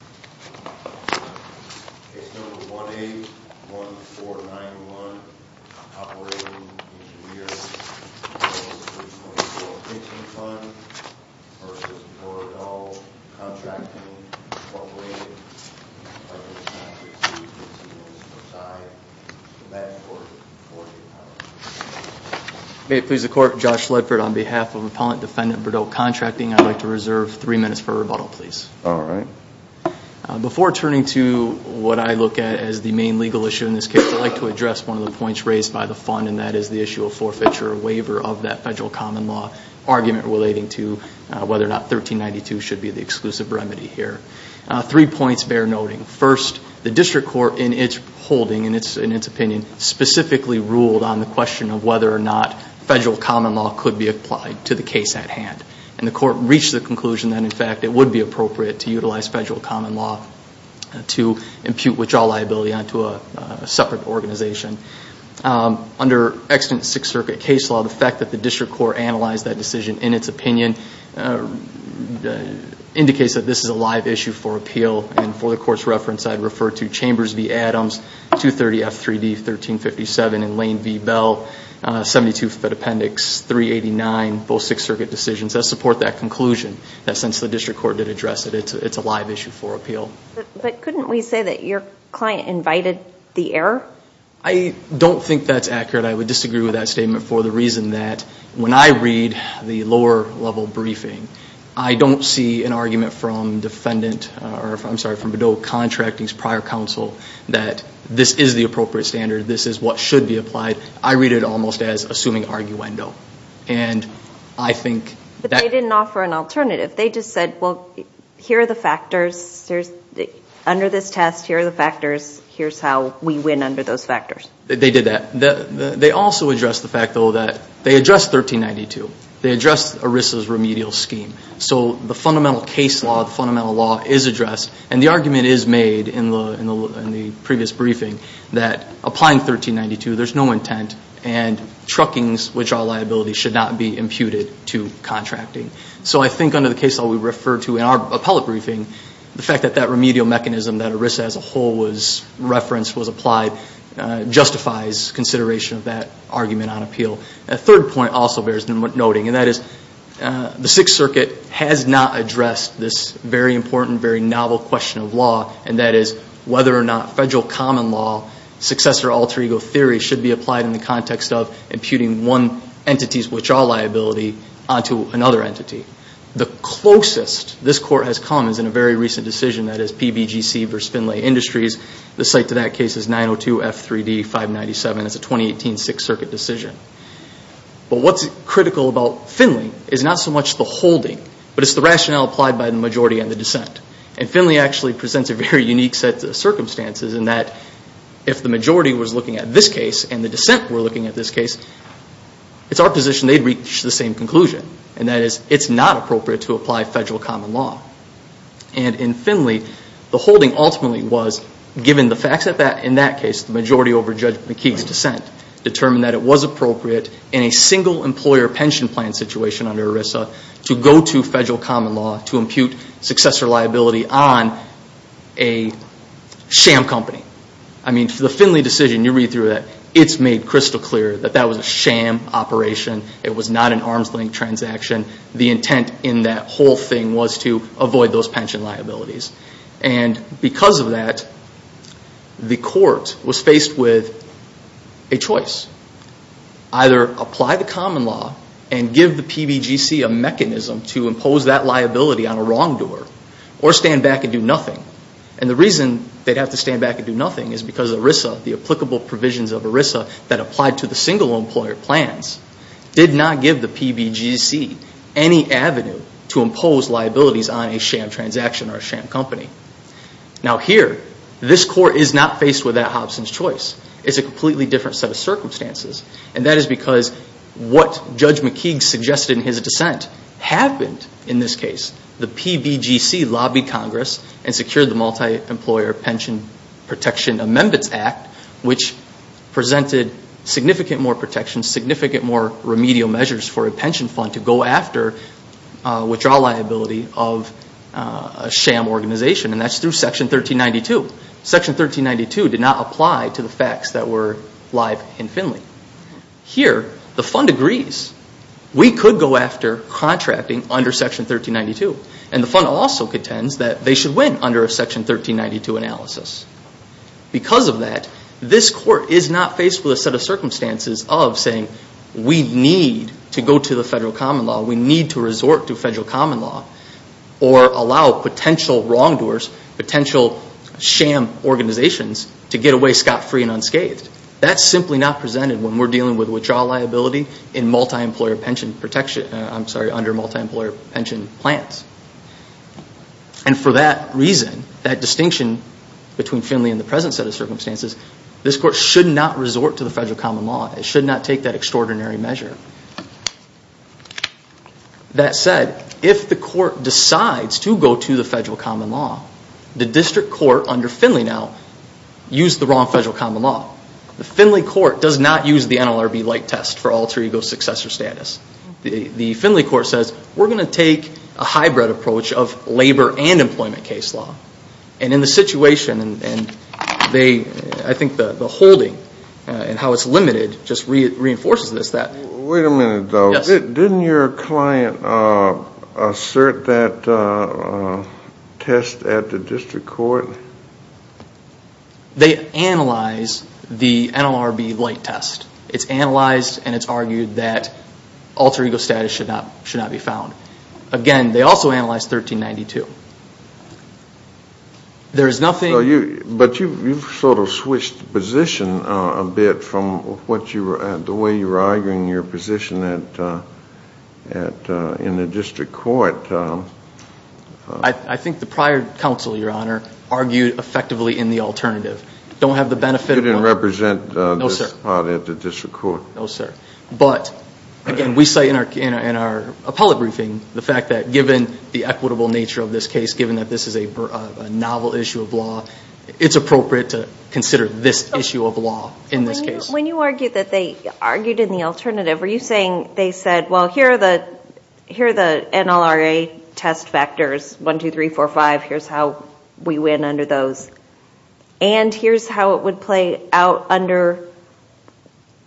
Case No. 181491 Operating Engineers Local 324 Pension Fund v. Bourdow Contracting Incorporated May it please the Court, Josh Ledford on behalf of Appellant Defendant Bourdow Contracting. I'd like to reserve three minutes for rebuttal, please. Before turning to what I look at as the main legal issue in this case, I'd like to address one of the points raised by the Fund, and that is the issue of forfeiture or waiver of that federal common law argument relating to whether or not 1392 should be the exclusive remedy here. Three points bear noting. First, the District Court in its holding, in its opinion, specifically ruled on the question of whether or not federal common law could be applied to the case at hand. And the Court reached the conclusion that, in fact, it would be appropriate to utilize federal common law to impute withdrawal liability onto a separate organization. Under extant Sixth Circuit case law, the fact that the District Court analyzed that decision in its opinion indicates that this is a live issue for appeal, and for the Court's reference I'd refer to Chambers v. Adams 230 F3D 1357 and Lane v. Bell 72 Fed Appendix 389, both Sixth Circuit decisions that support that conclusion, that since the District Court did address it, it's a live issue for appeal. But couldn't we say that your client invited the error? I don't think that's accurate. I would disagree with that statement for the reason that when I read the lower level briefing, I don't see an argument from defendant, or I'm sorry, from Bedell Contracting's prior counsel that this is the appropriate standard, this is what should be applied. I read it almost as assuming arguendo. And I think that- But they didn't offer an alternative. They just said, well, here are the factors. Under this test, here are the factors. Here's how we win under those factors. They did that. They also addressed the fact, though, that they addressed 1392. They addressed ERISA's remedial scheme. So the fundamental case law, the fundamental law is addressed, and the argument is made in the previous briefing that applying 1392, there's no intent, and truckings, which are liabilities, should not be imputed to contracting. So I think under the case law we refer to in our appellate briefing, the fact that that remedial mechanism that ERISA as a whole referenced was applied justifies consideration of that argument on appeal. A third point also bears noting, and that is the Sixth Circuit has not addressed this very important, very novel question of law, and that is whether or not federal common law successor alter ego theory should be applied in the context of imputing one entity's, which are liability, onto another entity. The closest this Court has come is in a very recent decision that is PBGC v. Finlay Industries. The site to that case is 902 F3D 597. It's a 2018 Sixth Circuit decision. But what's critical about Finlay is not so much the holding, but it's the rationale applied by the majority and the dissent. And Finlay actually presents a very unique set of circumstances in that if the majority was looking at this case and the dissent were looking at this case, it's our position they'd reach the same conclusion, and that is it's not appropriate to apply federal common law. And in Finlay, the holding ultimately was, given the facts in that case, the majority over Judge McKee's dissent determined that it was appropriate in a single employer pension plan situation under ERISA to go to federal common law to impute successor liability on a sham company. I mean, for the Finlay decision, you read through that, it's made crystal clear that that was a sham operation. It was not an arm's length transaction. The intent in that whole thing was to avoid those pension liabilities. And because of that, the Court was faced with a choice. Either apply the common law and give the PBGC a mechanism to impose that liability on a wrongdoer or stand back and do nothing. And the reason they'd have to stand back and do nothing is because ERISA, the applicable provisions of ERISA that applied to the single employer plans, did not give the PBGC any avenue to impose liabilities on a sham transaction or a sham company. Now here, this Court is not faced with that Hobson's choice. It's a completely different set of circumstances. And that is because what Judge McKeague suggested in his dissent happened in this case. The PBGC lobbied Congress and secured the Multi-Employer Pension Protection Amendments Act, which presented significant more protection, significant more remedial measures for a pension fund to go after withdrawal liability of a sham organization. And that's through Section 1392. Section 1392 did not apply to the facts that were live in Finley. Here, the fund agrees. We could go after contracting under Section 1392. And the fund also contends that they should win under a Section 1392 analysis. Because of that, this Court is not faced with a set of circumstances of saying we need to go to the federal common law, we need to resort to federal common law, or allow potential wrongdoers, potential sham organizations to get away scot-free and unscathed. That's simply not presented when we're dealing with withdrawal liability in multi-employer pension protection, I'm sorry, under multi-employer pension plans. And for that reason, that distinction between Finley and the present set of circumstances, this Court should not resort to the federal common law. It should not take that extraordinary measure. That said, if the Court decides to go to the federal common law, the District Court under Finley now used the wrong federal common law. The Finley Court does not use the NLRB light test for alter ego successor status. The Finley Court says, we're going to take a hybrid approach of labor and employment case law. And in the situation, and they, I think the holding and how it's limited just reinforces this, that. Wait a minute, though, didn't your client assert that test at the District Court? They analyze the NLRB light test. It's analyzed and it's argued that alter ego status should not be found. Again, they also analyze 1392. There is nothing... But you've sort of switched position a bit from what you were, the way you were arguing your position in the District Court. I think the prior counsel, Your Honor, argued effectively in the alternative. Don't have the benefit of... You didn't represent this part at the District Court. No, sir. But again, we say in our appellate briefing, the fact that given the equitable nature of this case, given that this is a novel issue of law, it's appropriate to consider this issue of law in this case. When you argued that they argued in the alternative, were you saying they said, well, here are the NLRA test factors, 1, 2, 3, 4, 5. Here's how we win under those. And here's how it would play out under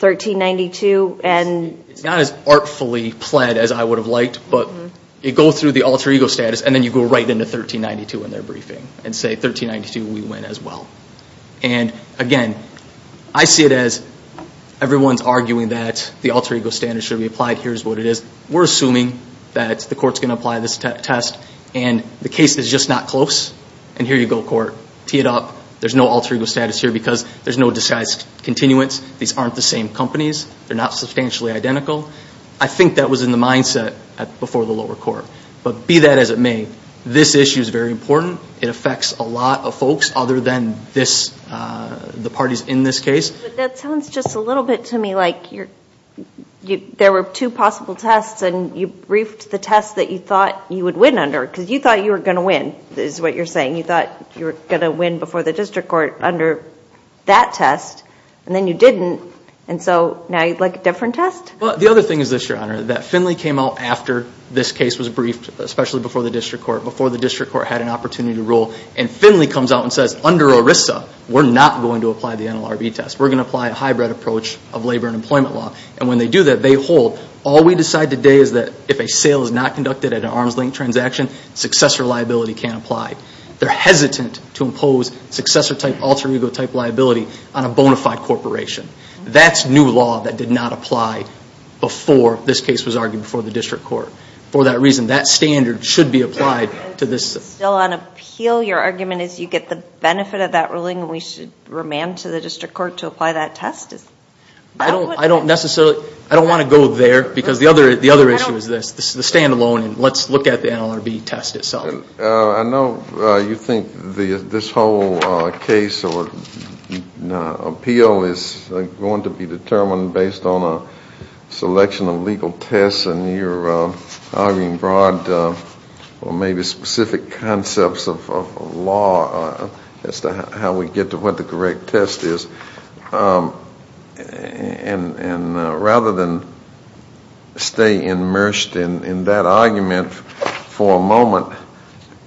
1392 and... It's not as artfully pled as I would have liked, but it goes through the alter ego status and then you go right into 1392 in their briefing and say, 1392, we win as well. And again, I see it as everyone's arguing that the alter ego status should be applied. Here's what it is. We're assuming that the court's going to apply this test and the case is just not close. And here you go, court, tee it up. There's no alter ego status here because there's no disguised continuance. These aren't the same companies. They're not substantially identical. I think that was in the mindset before the lower court. But be that as it may, this issue is very important. It affects a lot of folks other than the parties in this case. But that sounds just a little bit to me like there were two possible tests and you briefed the test that you thought you would win under because you thought you were going to win, is what you're saying. You thought you were going to win before the district court under that test and then you didn't. And so now you'd like a different test? Well, the other thing is this, Your Honor, that Finley came out after this case was briefed, especially before the district court, before the district court had an opportunity to rule. And Finley comes out and says, under ERISA, we're not going to apply the NLRB test. We're going to apply a hybrid approach of labor and employment law. And when they do that, they hold. All we decide today is that if a sale is not conducted at an arm's length transaction, successor liability can't apply. They're hesitant to impose successor type alter ego type liability on a bona fide corporation. That's new law that did not apply before this case was argued before the district court. For that reason, that standard should be applied to this. Still on appeal, your argument is you get the benefit of that ruling and we should remand to the district court to apply that test? Is that what? I don't necessarily, I don't want to go there because the other issue is this. This is the stand alone and let's look at the NLRB test itself. I know you think this whole case or appeal is going to be determined based on a selection of legal tests and you're arguing broad or maybe specific concepts of law. That's how we get to what the correct test is. And rather than stay immersed in that argument for a moment,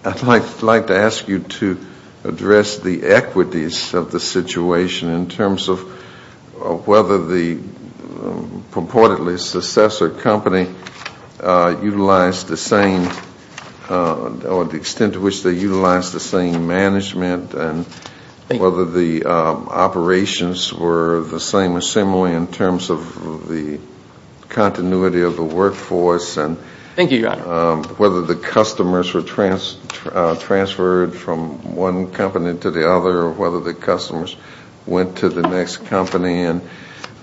I'd like to ask you to address the equities of the situation in terms of whether the purportedly successor company utilized the same, or the extent to which they utilized the same management and whether the operations were the same or similarly in terms of the continuity of the workforce and. Thank you, your honor. Whether the customers were transferred from one company to the other or whether the customers went to the next company and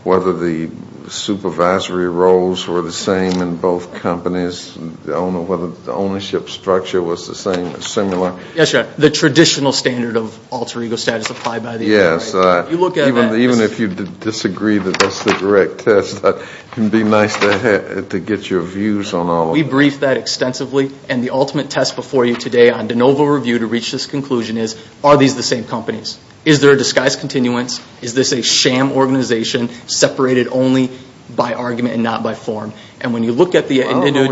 whether the supervisory roles were the same in both companies. I don't know whether the ownership structure was the same or similar. Yes, your honor. The traditional standard of alter ego status applied by the NLRB. Yes. You look at that. Even if you disagree that that's the correct test, it can be nice to get your views on all of that. We briefed that extensively and the ultimate test before you today on de novo review to reach this conclusion is, are these the same companies? Is there a disguised continuance? Is this a sham organization separated only by argument and not by form? And when you look at the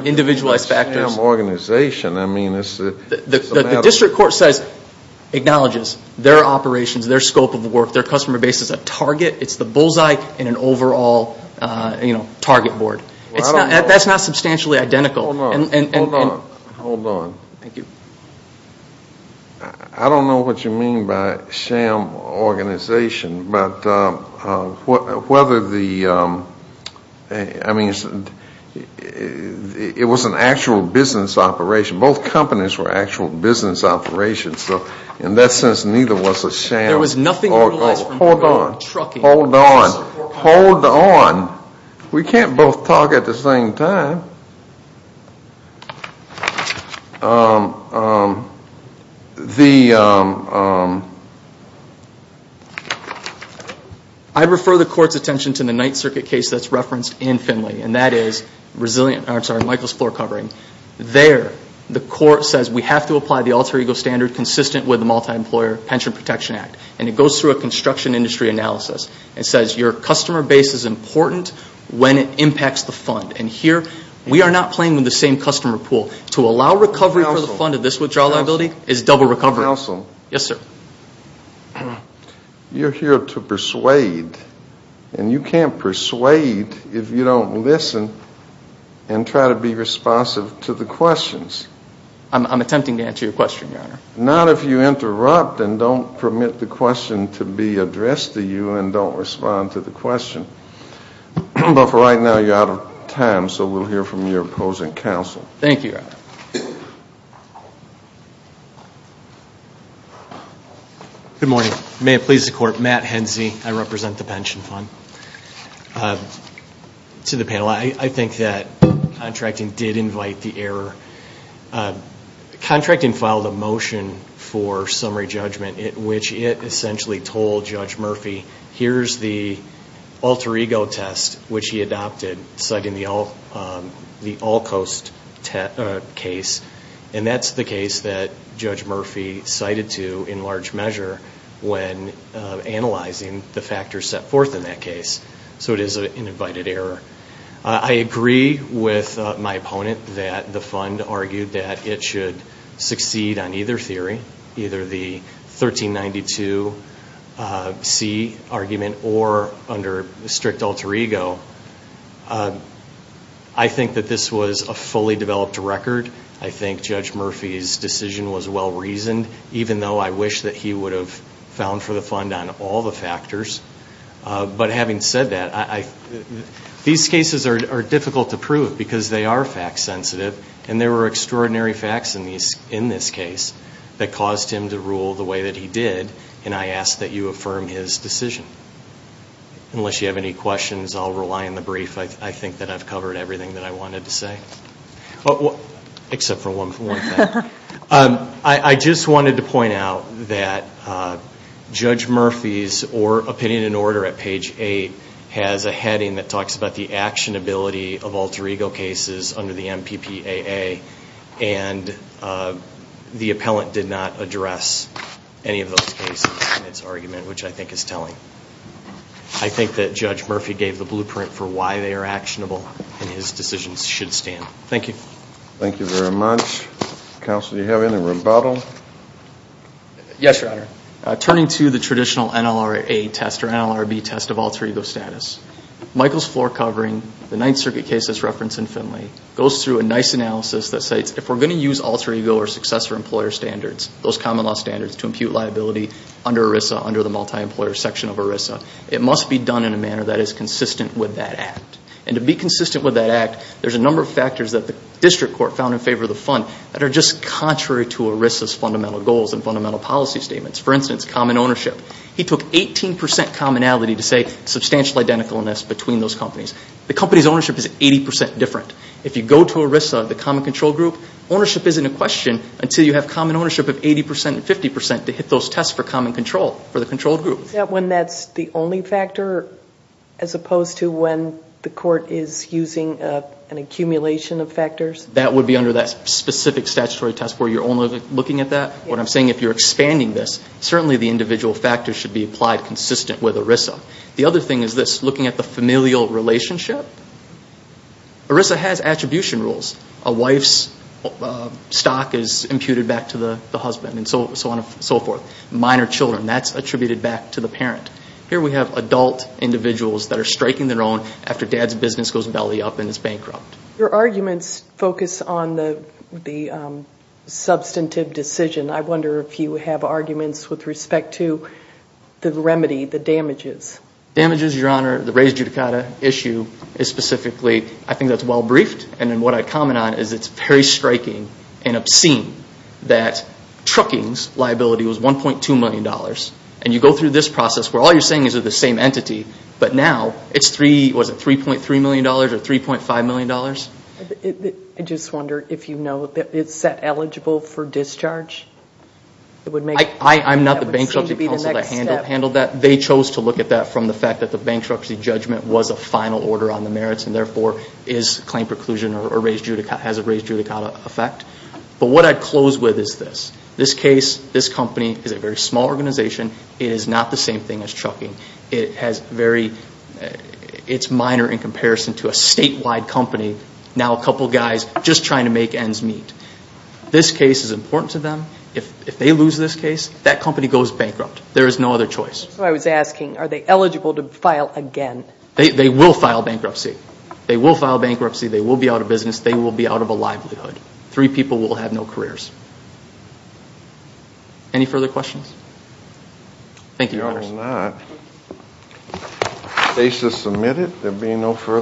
individualized factors. I don't know what the sham organization, I mean, it's a matter of. The district court says, acknowledges their operations, their scope of work, their customer base is a target. It's the bullseye in an overall target board. That's not substantially identical. Hold on. Hold on. Thank you. I don't know what you mean by sham organization, but whether the, I mean, it was an actual business operation. Both companies were actual business operations. So in that sense, neither was a sham. There was nothing. Hold on. Hold on. Hold on. We can't both talk at the same time. I refer the court's attention to the Ninth Circuit case that's referenced in Finley and that is Michael's floor covering. There the court says we have to apply the alter ego standard consistent with the multi-employer pension protection act. And it goes through a construction industry analysis and says your customer base is important when it impacts the fund. And here we are not playing with the same customer pool. To allow recovery for the fund of this withdrawal liability is double recovery. Counsel. Yes, sir. You're here to persuade and you can't persuade if you don't listen and try to be responsive to the questions. I'm attempting to answer your question, your honor. Not if you interrupt and don't permit the question to be addressed to you and don't respond to the question. But for right now, you're out of time. So we'll hear from your opposing counsel. Thank you, your honor. Good morning. May it please the court. Matt Henze. I represent the pension fund. To the panel, I think that contracting did invite the error. Contracting filed a motion for summary judgment which it essentially told Judge Murphy, here's the alter ego test which he adopted citing the all coast case. And that's the case that Judge Murphy cited to in large measure when analyzing the factors set forth in that case. So it is an invited error. I agree with my opponent that the fund argued that it should succeed on either theory, either the 1392C argument or under strict alter ego. I think that this was a fully developed record. I think Judge Murphy's decision was well reasoned even though I wish that he would have found for the fund on all the factors. But having said that, these cases are difficult to prove because they are fact sensitive. And there were extraordinary facts in this case that caused him to rule the way that he did. And I ask that you affirm his decision. Unless you have any questions, I'll rely on the brief. I think that I've covered everything that I wanted to say, except for one thing. I just wanted to point out that Judge Murphy's opinion and order at page 8 has a heading that talks about the actionability of alter ego cases under the MPPAA and the appellant did not address any of those cases in its argument, which I think is telling. I think that Judge Murphy gave the blueprint for why they are actionable and his decisions should stand. Thank you. Thank you very much. Counsel, do you have any rebuttal? Yes, Your Honor. Turning to the traditional NLRA test or NLRB test of alter ego status, Michael's floor covering the Ninth Circuit case that's referenced in Finley goes through a nice analysis that states if we're going to use alter ego or successor employer standards, those common law standards to impute liability under ERISA, under the multi-employer section of ERISA, it must be done in a manner that is consistent with that act. To be consistent with that act, there's a number of factors that the district court found in favor of the fund that are just contrary to ERISA's fundamental goals and fundamental policy statements. For instance, common ownership. He took 18% commonality to say substantial identicalness between those companies. The company's ownership is 80% different. If you go to ERISA, the common control group, ownership isn't a question until you have common ownership of 80% and 50% to hit those tests for common control for the control group. Is that when that's the only factor as opposed to when the court is using an accumulation of factors? That would be under that specific statutory test where you're only looking at that. What I'm saying, if you're expanding this, certainly the individual factors should be applied consistent with ERISA. The other thing is this, looking at the familial relationship, ERISA has attribution rules. A wife's stock is imputed back to the husband and so on and so forth. Minor children, that's attributed back to the parent. Here we have adult individuals that are striking their own after dad's business goes belly up and is bankrupt. Your arguments focus on the substantive decision. I wonder if you have arguments with respect to the remedy, the damages. Damages, Your Honor, the raised judicata issue is specifically, I think that's well briefed and then what I comment on is it's very striking and obscene that trucking's liability was $1.2 million. You go through this process where all you're saying is they're the same entity but now it's $3.3 million or $3.5 million? I just wonder if you know, is that eligible for discharge? I'm not the bankruptcy counsel that handled that. They chose to look at that from the fact that the bankruptcy judgment was a final order on the merits and therefore is claim preclusion or has a raised judicata effect. What I'd close with is this. This case, this company is a very small organization. It is not the same thing as trucking. It has very, it's minor in comparison to a statewide company. Now a couple guys just trying to make ends meet. This case is important to them. If they lose this case, that company goes bankrupt. There is no other choice. I was asking, are they eligible to file again? They will file bankruptcy. They will file bankruptcy. They will be out of business. They will be out of a livelihood. Three people will have no careers. Any further questions? Thank you.